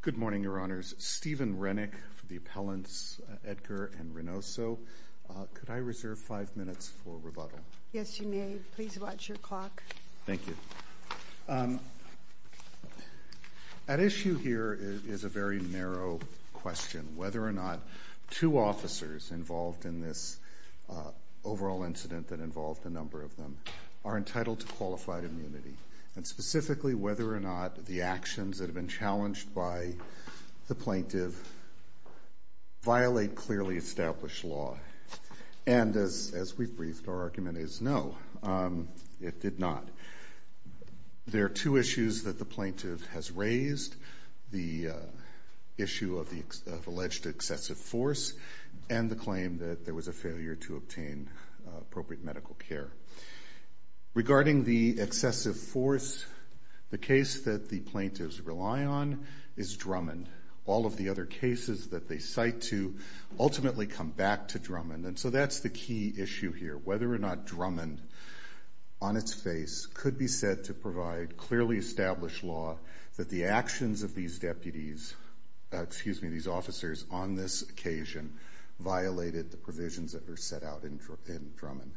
Good morning, Your Honors. Stephen Rennick for the appellants Edgar and Reynoso. Could I reserve five minutes for rebuttal? Yes, you may. Please watch your clock. Thank you. At issue here is a very narrow question, whether or not two officers involved in this overall incident that involved a number of them are entitled to qualified immunity, and specifically whether or not the actions that have been challenged by the plaintiff violate clearly established law. And as we've briefed, our argument is no, it did not. There are two issues that the plaintiff has raised, the issue of alleged excessive force and the claim that there was a failure to obtain appropriate medical care. Regarding the excessive force, the case that the plaintiffs rely on is Drummond. All of the other cases that they cite to ultimately come back to Drummond. And so that's the key issue here, whether or not Drummond on its face could be said to provide clearly established law that the actions of these deputies, excuse me, these officers on this occasion violated the provisions that were set out in Drummond.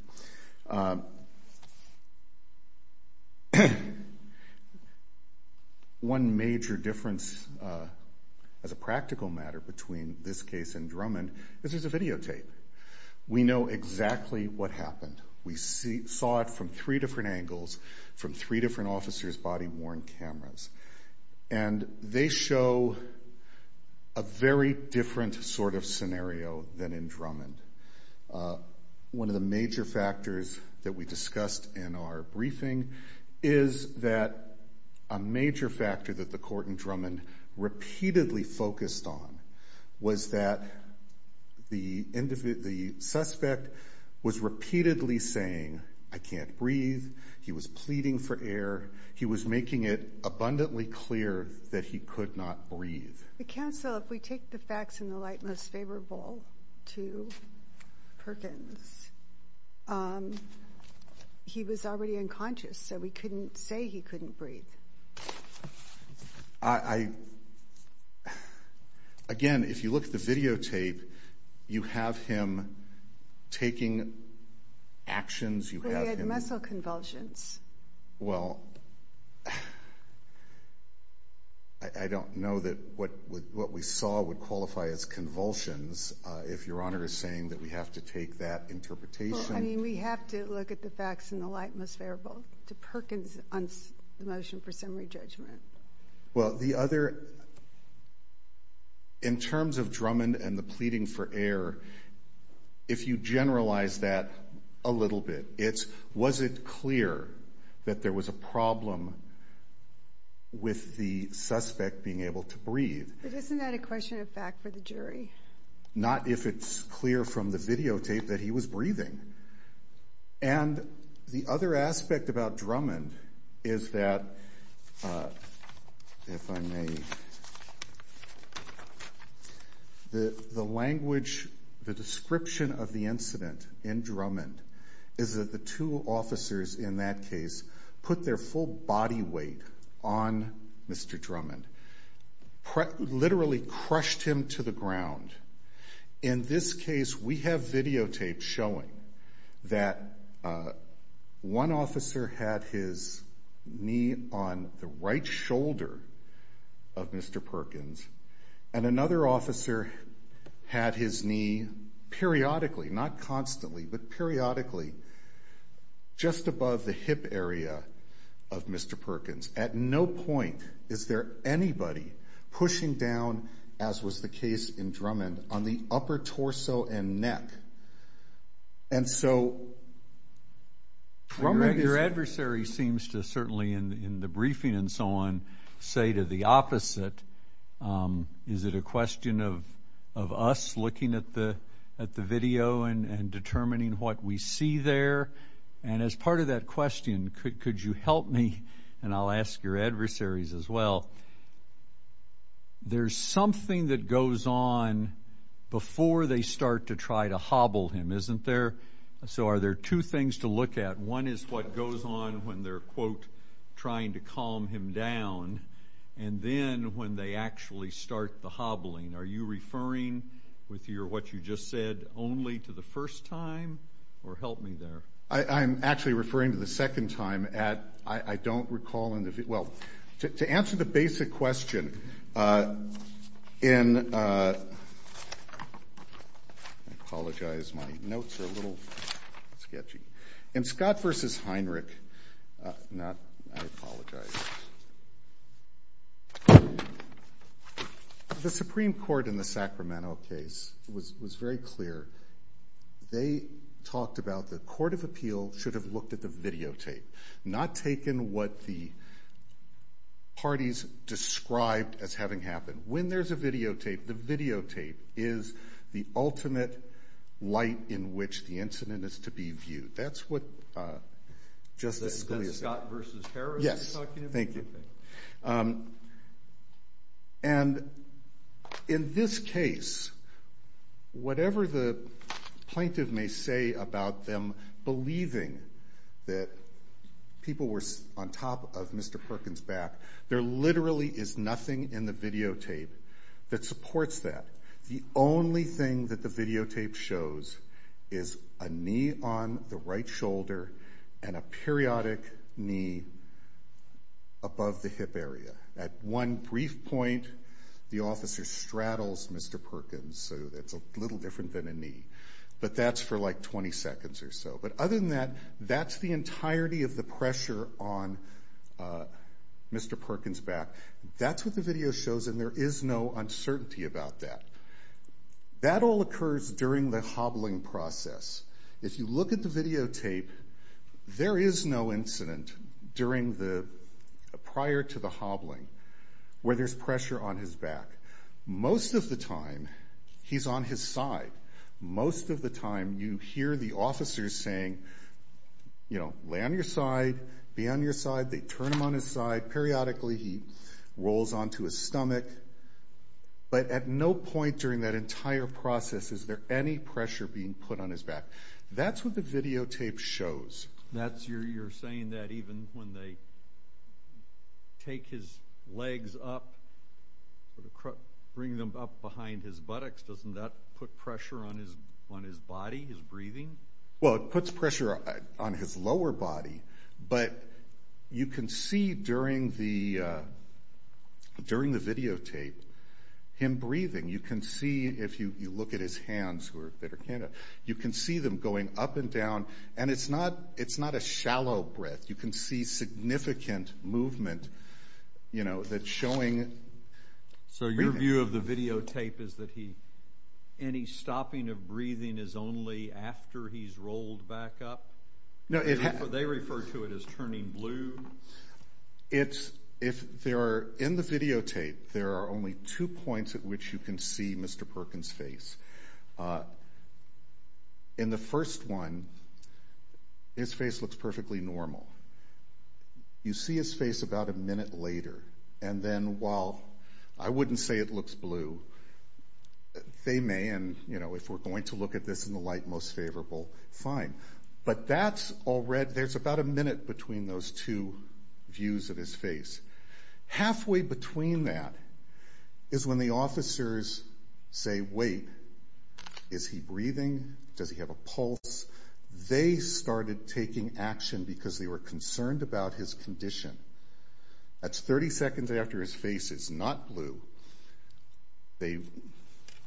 One major difference as a practical matter between this case and Drummond is there's a videotape. We know exactly what happened. We saw it from three different angles, from three different officers' body-worn cameras. And they show a very different sort of scenario than in Drummond. One of the major factors that we discussed in our briefing is that a major factor that the court in Drummond repeatedly focused on was that the suspect was repeatedly saying, I can't breathe. He was pleading for air. He was making it abundantly clear that he could not breathe. But counsel, if we take the facts in the light most favorable to Perkins, he was already unconscious so we couldn't say he couldn't breathe. I, again, if you look at the videotape, you have him taking actions. He had muscle convulsions. Well, I don't know that what we saw would qualify as convulsions if Your Honor is saying that we have to take that interpretation. Well, I mean, we have to look at the facts in the light most favorable to Perkins on the motion for summary judgment. Well, the other, in terms of Drummond and the pleading for air, if you generalize that a little bit, it's was it clear that there was a problem with the suspect being able to breathe? But isn't that a question of fact for the jury? Not if it's clear from the videotape that he was breathing. And the other aspect about Drummond is that, if I may, the language, the description of the incident in Drummond is that the two officers in that case put their full body weight on Mr. Drummond, literally crushed him to the ground. In this case, we have videotapes showing that one officer had his knee on the right shoulder of Mr. Perkins, and another officer had his knee periodically, not constantly, but periodically, just above the hip area of Mr. Perkins. At no point is there anybody pushing down, as was the case in Drummond, on the upper torso and neck. And so, Drummond is... Your adversary seems to, certainly in the briefing and so on, say to the opposite. Is it a question of us looking at the video and determining what we see there? And as part of that question, could you help me, and I'll ask your adversaries as well, there's something that goes on before they start to try to hobble him, isn't there? So, are there two things to look at? One is what goes on when they're, quote, trying to calm him down, and then when they actually start the hobbling. Are you referring with what you just said only to the first time? Or help me there. I'm actually referring to the second time. I don't recall... Well, to answer the basic question, in... I apologize. My notes are a little sketchy. In Scott v. Heinrich, not... I apologize. The Supreme Court in the Sacramento case was very clear. They talked about the Court of Appeal should have looked at the videotape, not taken what the parties described as having happened. When there's a videotape, the videotape is the ultimate light in which the incident is to be viewed. That's what Justice Scalia said. That's Scott v. Harris you're talking about? Yes, thank you. And in this case, whatever the plaintiff may say about them believing that people were on top of Mr. Perkins' back, there literally is nothing in the videotape that supports that. The only thing that the videotape shows is a knee on the right shoulder and a periodic knee above the hip area. At one brief point, the officer straddles Mr. Perkins, so it's a little different than a knee. But that's for, like, 20 seconds or so. But other than that, that's the entirety of the pressure on Mr. Perkins' back. That's what the video shows, and there is no uncertainty about that. That all occurs during the hobbling process. If you look at the videotape, there is no incident prior to the hobbling where there's pressure on his back. Most of the time, he's on his side. Most of the time, you hear the officers saying, you know, lay on your side, be on your side. They turn him on his side. Periodically, he rolls onto his stomach. But at no point during that entire process is there any pressure being put on his back. That's what the videotape shows. You're saying that even when they take his legs up, bring them up behind his buttocks, doesn't that put pressure on his body, his breathing? Well, it puts pressure on his lower body. But you can see during the videotape him breathing. You can see, if you look at his hands, you can see them going up and down. And it's not a shallow breath. You can see significant movement, you know, that's showing. So your view of the videotape is that any stopping of breathing is only after he's rolled back up? They refer to it as turning blue. In the videotape, there are only two points at which you can see Mr. Perkins' face. In the first one, his face looks perfectly normal. You see his face about a minute later. And then while I wouldn't say it looks blue, they may, and, you know, if we're going to look at this in the light most favorable, fine. But that's already, there's about a minute between those two views of his face. Halfway between that is when the officers say, wait, is he breathing? Does he have a pulse? They started taking action because they were concerned about his condition. That's 30 seconds after his face is not blue. They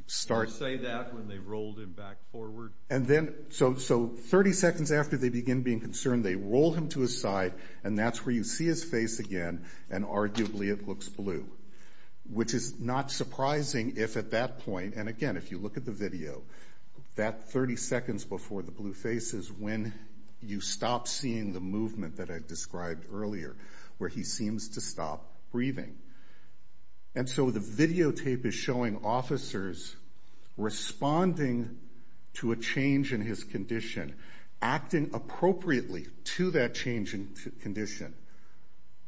start. Did you say that when they rolled him back forward? And then, so 30 seconds after they begin being concerned, they roll him to his side, and that's where you see his face again, and arguably it looks blue, which is not surprising if at that point, and again, if you look at the video, that 30 seconds before the blue face is when you stop seeing the movement that I described earlier, where he seems to stop breathing. And so the videotape is showing officers responding to a change in his condition, acting appropriately to that change in condition,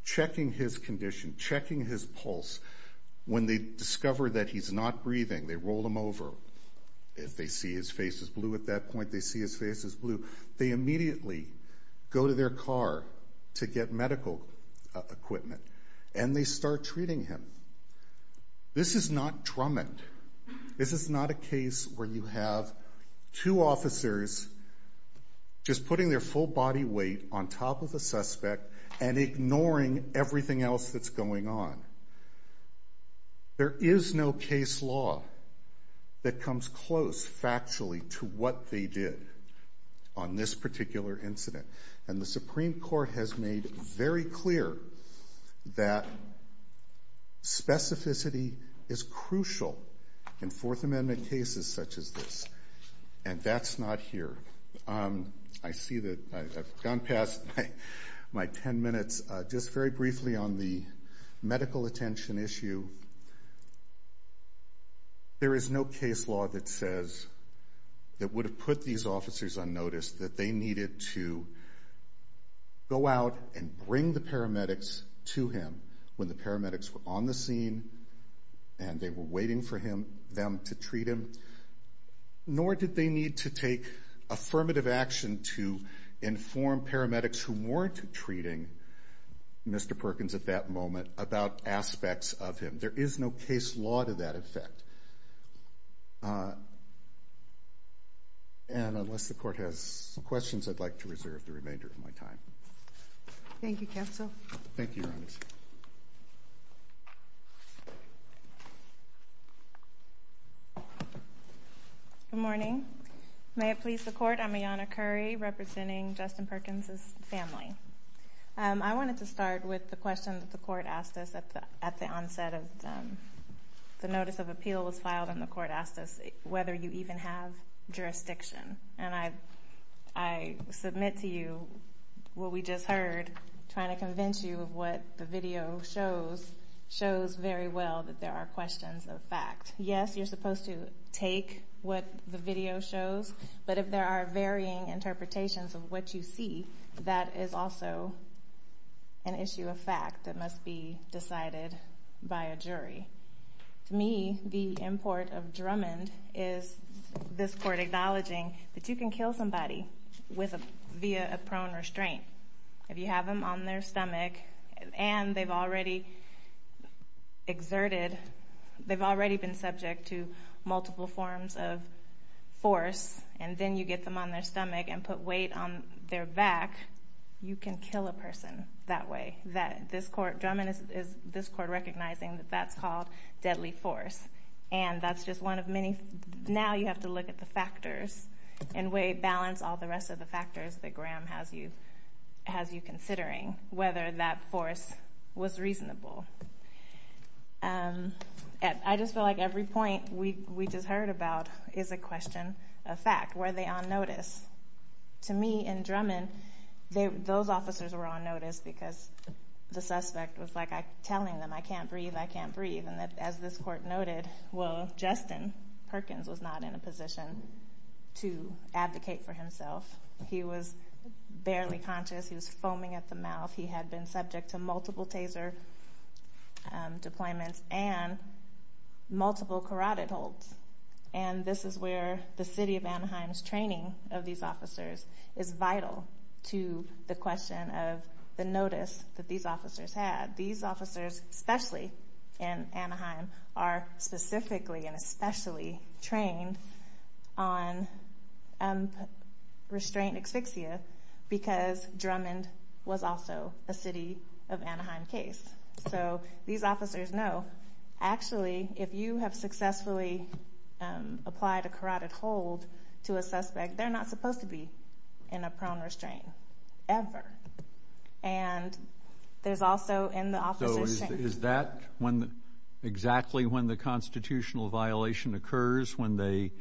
checking his condition, checking his pulse. When they discover that he's not breathing, they roll him over. If they see his face is blue at that point, they see his face is blue. They immediately go to their car to get medical equipment, and they start treating him. This is not Drummond. This is not a case where you have two officers just putting their full body weight on top of a suspect and ignoring everything else that's going on. There is no case law that comes close factually to what they did on this particular incident, and the Supreme Court has made very clear that specificity is crucial in Fourth Amendment cases such as this, and that's not here. I see that I've gone past my ten minutes. Just very briefly on the medical attention issue, there is no case law that says that would have put these officers on notice that they needed to go out and bring the paramedics to him when the paramedics were on the scene and they were waiting for them to treat him, nor did they need to take affirmative action to inform paramedics who weren't treating Mr. Perkins at that moment about aspects of him. There is no case law to that effect. Unless the Court has questions, I'd like to reserve the remainder of my time. Thank you, Counsel. Thank you, Your Honor. Good morning. May it please the Court, I'm Ayanna Curry representing Justin Perkins' family. I wanted to start with the question that the Court asked us at the onset of the notice of appeal was filed, and the Court asked us whether you even have jurisdiction. And I submit to you what we just heard, trying to convince you of what the video shows, shows very well that there are questions of fact. Yes, you're supposed to take what the video shows, but if there are varying interpretations of what you see, that is also an issue of fact that must be decided by a jury. To me, the import of Drummond is this Court acknowledging that you can kill somebody via a prone restraint. If you have them on their stomach and they've already exerted, they've already been subject to multiple forms of force, and then you get them on their stomach and put weight on their back, you can kill a person that way. Drummond is this Court recognizing that that's called deadly force. And that's just one of many. Now you have to look at the factors and balance all the rest of the factors that Graham has you considering, whether that force was reasonable. I just feel like every point we just heard about is a question of fact. Were they on notice? To me, in Drummond, those officers were on notice because the suspect was telling them, I can't breathe, I can't breathe. And as this Court noted, well, Justin Perkins was not in a position to advocate for himself. He was barely conscious. He was foaming at the mouth. He had been subject to multiple taser deployments and multiple carotid holds. And this is where the city of Anaheim's training of these officers is vital to the question of the notice that these officers had. These officers, especially in Anaheim, are specifically and especially trained on restraint asphyxia because Drummond was also a city of Anaheim case. So these officers know, actually, if you have successfully applied a carotid hold to a suspect, they're not supposed to be in a prone restraint ever. And there's also in the officers' training. So is that exactly when the constitutional violation occurs, when they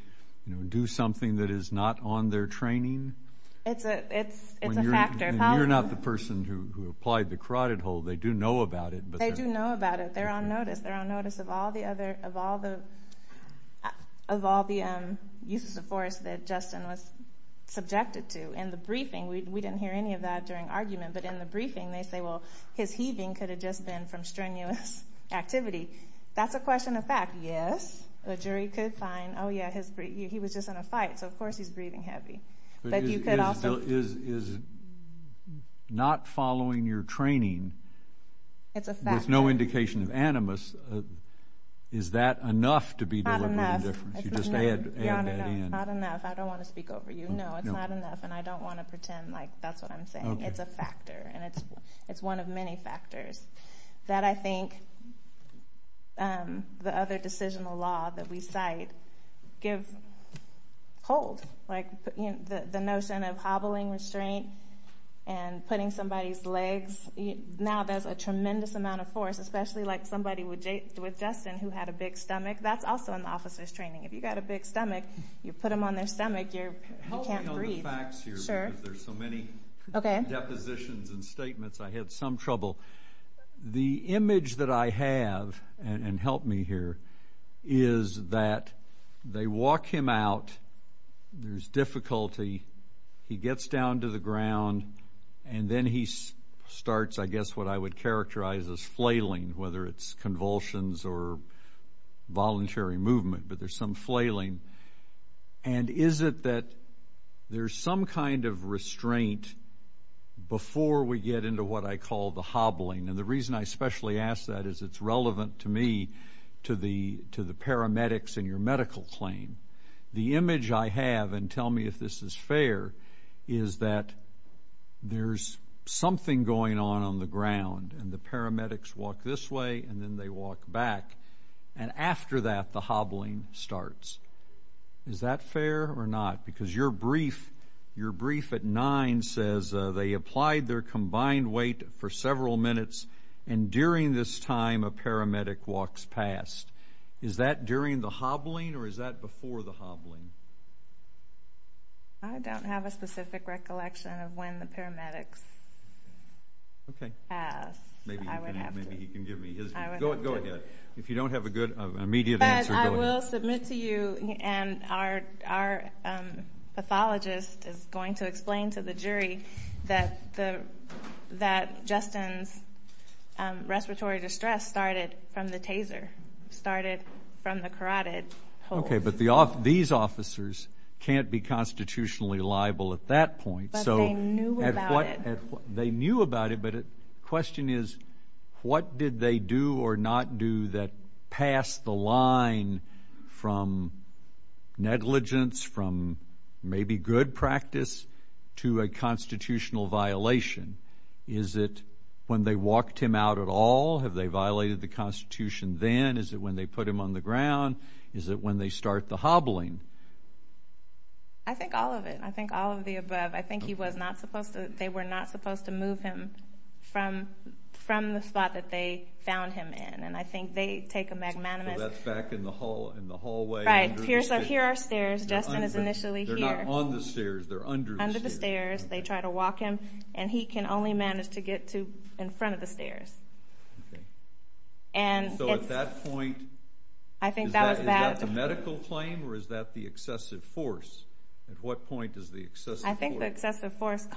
do something that is not on their training? It's a factor. You're not the person who applied the carotid hold. They do know about it. They do know about it. They're on notice. They're on notice of all the uses of force that Justin was subjected to. In the briefing, we didn't hear any of that during argument, but in the briefing they say, well, his heaving could have just been from strenuous activity. That's a question of fact. Yes, the jury could find, oh, yeah, he was just in a fight, so of course he's breathing heavy. But is not following your training with no indication of animus, is that enough to be deliberate indifference? You just add that in. No, it's not enough. I don't want to speak over you. No, it's not enough, and I don't want to pretend like that's what I'm saying. It's a factor, and it's one of many factors that I think the other decisional law that we cite give hold. Like the notion of hobbling restraint and putting somebody's legs. Now there's a tremendous amount of force, especially like somebody with Justin who had a big stomach. That's also in the officer's training. If you've got a big stomach, you put them on their stomach, you can't breathe. Help me on the facts here because there's so many depositions and statements. I had some trouble. The image that I have, and help me here, is that they walk him out. There's difficulty. He gets down to the ground, and then he starts I guess what I would characterize as flailing, whether it's convulsions or voluntary movement, but there's some flailing. And is it that there's some kind of restraint before we get into what I call the hobbling? And the reason I especially ask that is it's relevant to me, to the paramedics in your medical claim. The image I have, and tell me if this is fair, is that there's something going on on the ground, and the paramedics walk this way, and then they walk back, and after that the hobbling starts. Is that fair or not? Because your brief at 9 says they applied their combined weight for several minutes, and during this time a paramedic walks past. Is that during the hobbling or is that before the hobbling? I don't have a specific recollection of when the paramedics passed. Maybe you can give me his. Go ahead. If you don't have an immediate answer, go ahead. But I will submit to you, and our pathologist is going to explain to the jury, that Justin's respiratory distress started from the taser, started from the carotid hole. Okay, but these officers can't be constitutionally liable at that point. But they knew about it. They knew about it, but the question is what did they do or not do that passed the line from negligence, from maybe good practice to a constitutional violation? Is it when they walked him out at all? Have they violated the Constitution then? Is it when they put him on the ground? Is it when they start the hobbling? I think all of it. I think all of the above. I think they were not supposed to move him from the spot that they found him in, and I think they take a magnanimous. So that's back in the hallway. Right. Here are stairs. Justin is initially here. They're not on the stairs. They're under the stairs. They try to walk him, and he can only manage to get to in front of the stairs. So at that point, is that the medical claim or is that the excessive force? At what point is the excessive force? I think the excessive force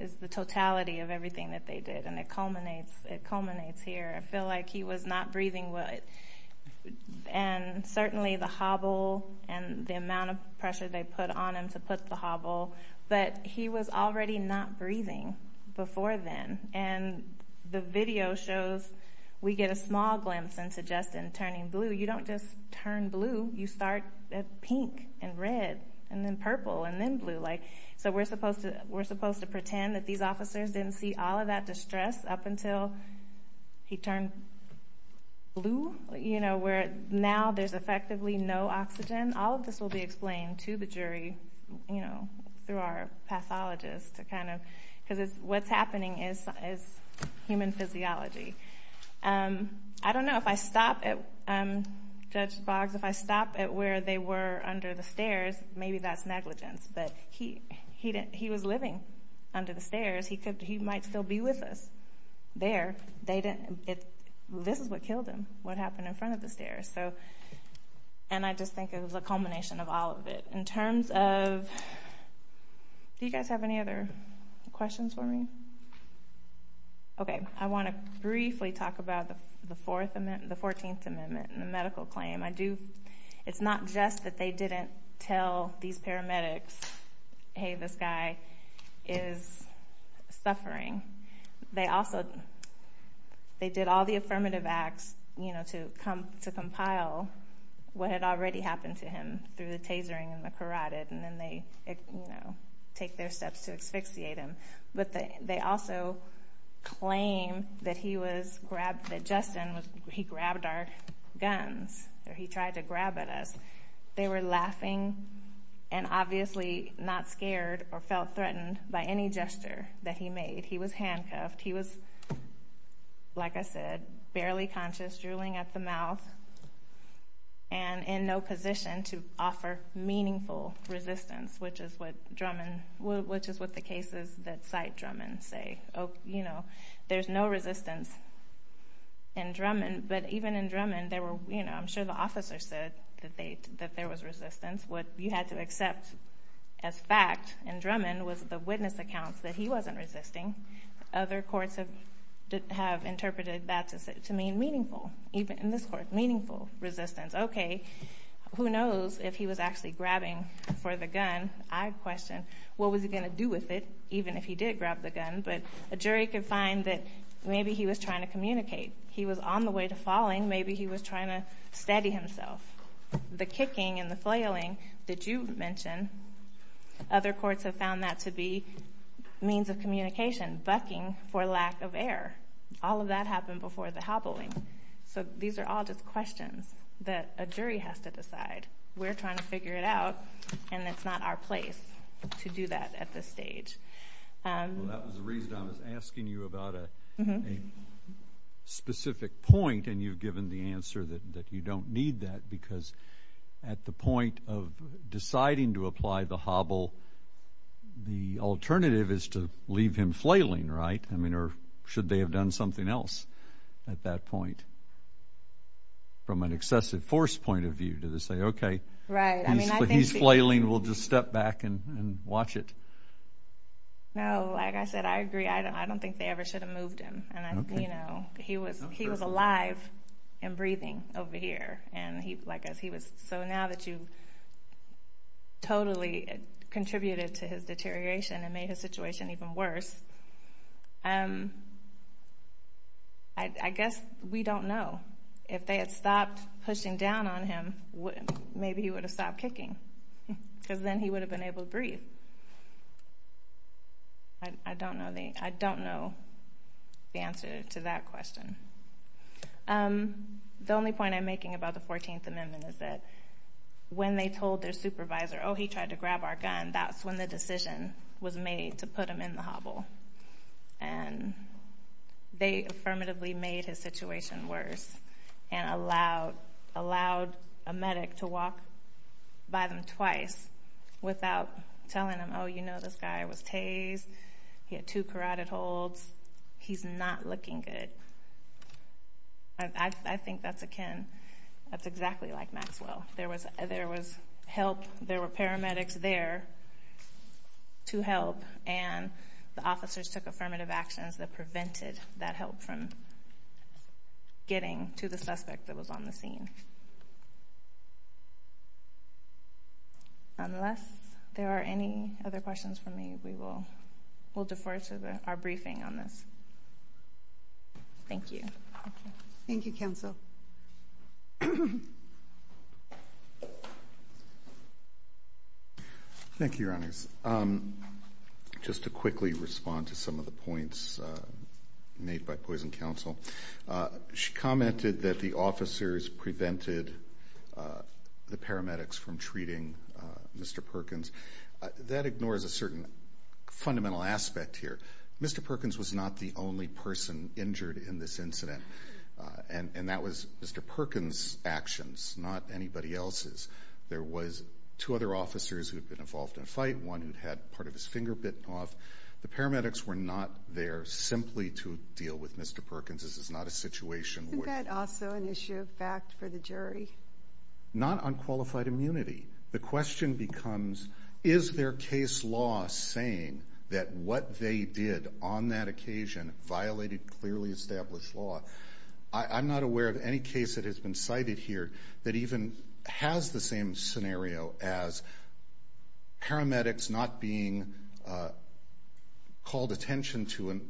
is the totality of everything that they did, and it culminates here. I feel like he was not breathing well. And certainly the hobble and the amount of pressure they put on him to put the hobble, but he was already not breathing before then. And the video shows we get a small glimpse into Justin turning blue. You don't just turn blue. You start pink and red and then purple and then blue. So we're supposed to pretend that these officers didn't see all of that distress up until he turned blue, where now there's effectively no oxygen. All of this will be explained to the jury through our pathologist. Because what's happening is human physiology. I don't know if I stop at Judge Boggs. If I stop at where they were under the stairs, maybe that's negligence. But he was living under the stairs. He might still be with us there. This is what killed him, what happened in front of the stairs. And I just think it was a culmination of all of it. In terms of... Do you guys have any other questions for me? Okay, I want to briefly talk about the 14th Amendment and the medical claim. It's not just that they didn't tell these paramedics, hey, this guy is suffering. They did all the affirmative acts to compile what had already happened to him through the tasering and the carotid, and then they take their steps to asphyxiate him. But they also claim that Justin grabbed our guns, or he tried to grab at us. They were laughing and obviously not scared or felt threatened by any gesture that he made. He was handcuffed. He was, like I said, barely conscious, drooling at the mouth, and in no position to offer meaningful resistance, which is what the cases that cite Drummond say. There's no resistance in Drummond. But even in Drummond, I'm sure the officer said that there was resistance. What you had to accept as fact in Drummond was the witness accounts that he wasn't resisting. Other courts have interpreted that to mean meaningful, even in this court, meaningful resistance. Okay, who knows if he was actually grabbing for the gun. I question what was he going to do with it, even if he did grab the gun. But a jury could find that maybe he was trying to communicate. He was on the way to falling. Maybe he was trying to steady himself. The kicking and the flailing that you mentioned, other courts have found that to be means of communication, bucking for lack of air. All of that happened before the hobbling. So these are all just questions that a jury has to decide. We're trying to figure it out, and it's not our place to do that at this stage. Well, that was the reason I was asking you about a specific point, and you've given the answer that you don't need that because at the point of deciding to apply the hobble, the alternative is to leave him flailing, right? I mean, or should they have done something else at that point from an excessive force point of view? Did they say, okay, he's flailing, we'll just step back and watch it? No, like I said, I agree. I don't think they ever should have moved him. He was alive and breathing over here. So now that you totally contributed to his deterioration and made his situation even worse, I guess we don't know. If they had stopped pushing down on him, maybe he would have stopped kicking because then he would have been able to breathe. I don't know the answer to that question. The only point I'm making about the 14th Amendment is that when they told their supervisor, oh, he tried to grab our gun, that's when the decision was made to put him in the hobble. And they affirmatively made his situation worse and allowed a medic to walk by them twice without telling them, oh, you know, this guy was tased, he had two carotid holds, he's not looking good. I think that's akin, that's exactly like Maxwell. There was help, there were paramedics there to help, and the officers took affirmative actions that prevented that help from getting to the suspect that was on the scene. Unless there are any other questions from me, we will defer to our briefing on this. Thank you. Thank you, counsel. Thank you, Your Honors. Just to quickly respond to some of the points made by poison counsel, she commented that the officers prevented the paramedics from treating Mr. Perkins. That ignores a certain fundamental aspect here. Mr. Perkins was not the only person injured in this incident, and that was Mr. Perkins' actions, not anybody else's. There was two other officers who had been involved in a fight, one who had part of his finger bitten off. The paramedics were not there simply to deal with Mr. Perkins. This is not a situation where they were involved. Isn't that also an issue of fact for the jury? Not on qualified immunity. The question becomes, is their case law saying that what they did on that occasion violated clearly established law? I'm not aware of any case that has been cited here that even has the same scenario as paramedics not being called attention to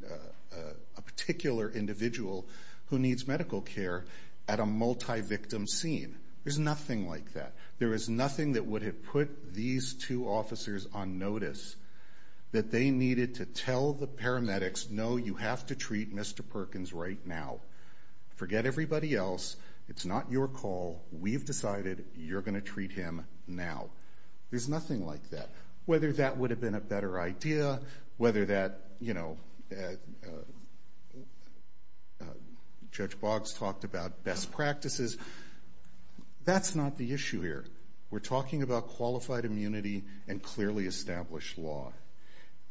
a particular individual who needs medical care at a multi-victim scene. There's nothing like that. There is nothing that would have put these two officers on notice that they needed to tell the paramedics, no, you have to treat Mr. Perkins right now. Forget everybody else. It's not your call. We've decided you're going to treat him now. There's nothing like that. Whether that would have been a better idea, whether that, you know, Judge Boggs talked about best practices, that's not the issue here. We're talking about qualified immunity and clearly established law.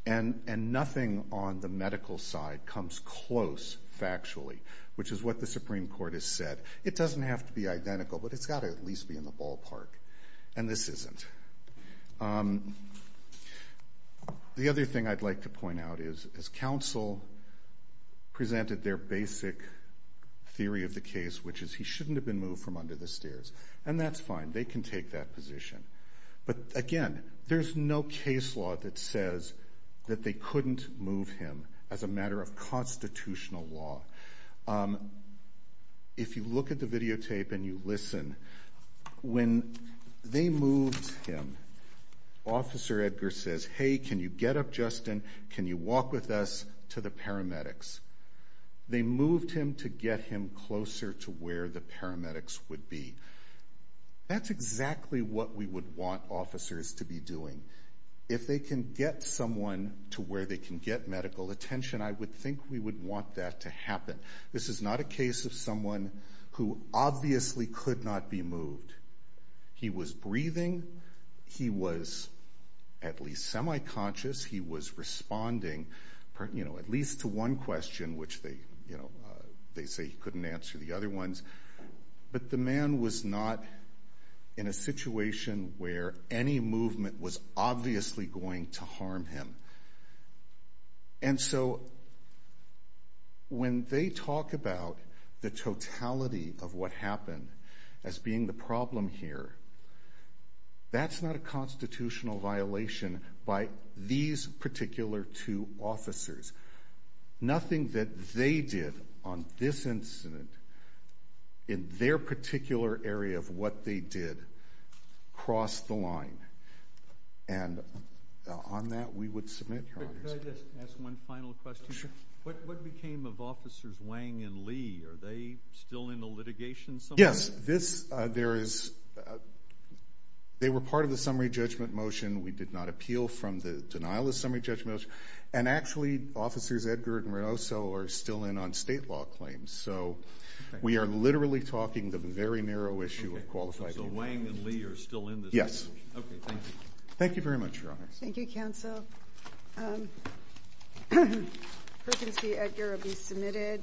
And nothing on the medical side comes close factually, which is what the Supreme Court has said. It doesn't have to be identical, but it's got to at least be in the ballpark. And this isn't. The other thing I'd like to point out is as counsel presented their basic theory of the case, which is he shouldn't have been moved from under the stairs. And that's fine. They can take that position. But, again, there's no case law that says that they couldn't move him as a matter of constitutional law. If you look at the videotape and you listen, when they moved him, Officer Edgar says, hey, can you get up, Justin? Can you walk with us to the paramedics? They moved him to get him closer to where the paramedics would be. That's exactly what we would want officers to be doing. If they can get someone to where they can get medical attention, I would think we would want that to happen. This is not a case of someone who obviously could not be moved. He was breathing. He was at least semi-conscious. He was responding at least to one question, which they say he couldn't answer the other ones. But the man was not in a situation where any movement was obviously going to harm him. And so when they talk about the totality of what happened as being the problem here, that's not a constitutional violation by these particular two officers. Nothing that they did on this incident, in their particular area of what they did, crossed the line. And on that, we would submit. Could I just ask one final question? Sure. What became of Officers Wang and Lee? Are they still in the litigation somewhere? Yes. They were part of the summary judgment motion. We did not appeal from the denial of the summary judgment motion. And actually, Officers Edgar and Reynoso are still in on state law claims. So we are literally talking the very narrow issue of qualified immunity. So Wang and Lee are still in this? Yes. Okay, thank you. Thank you very much, Your Honor. Thank you, Counsel. Perkins v. Edgar will be submitted.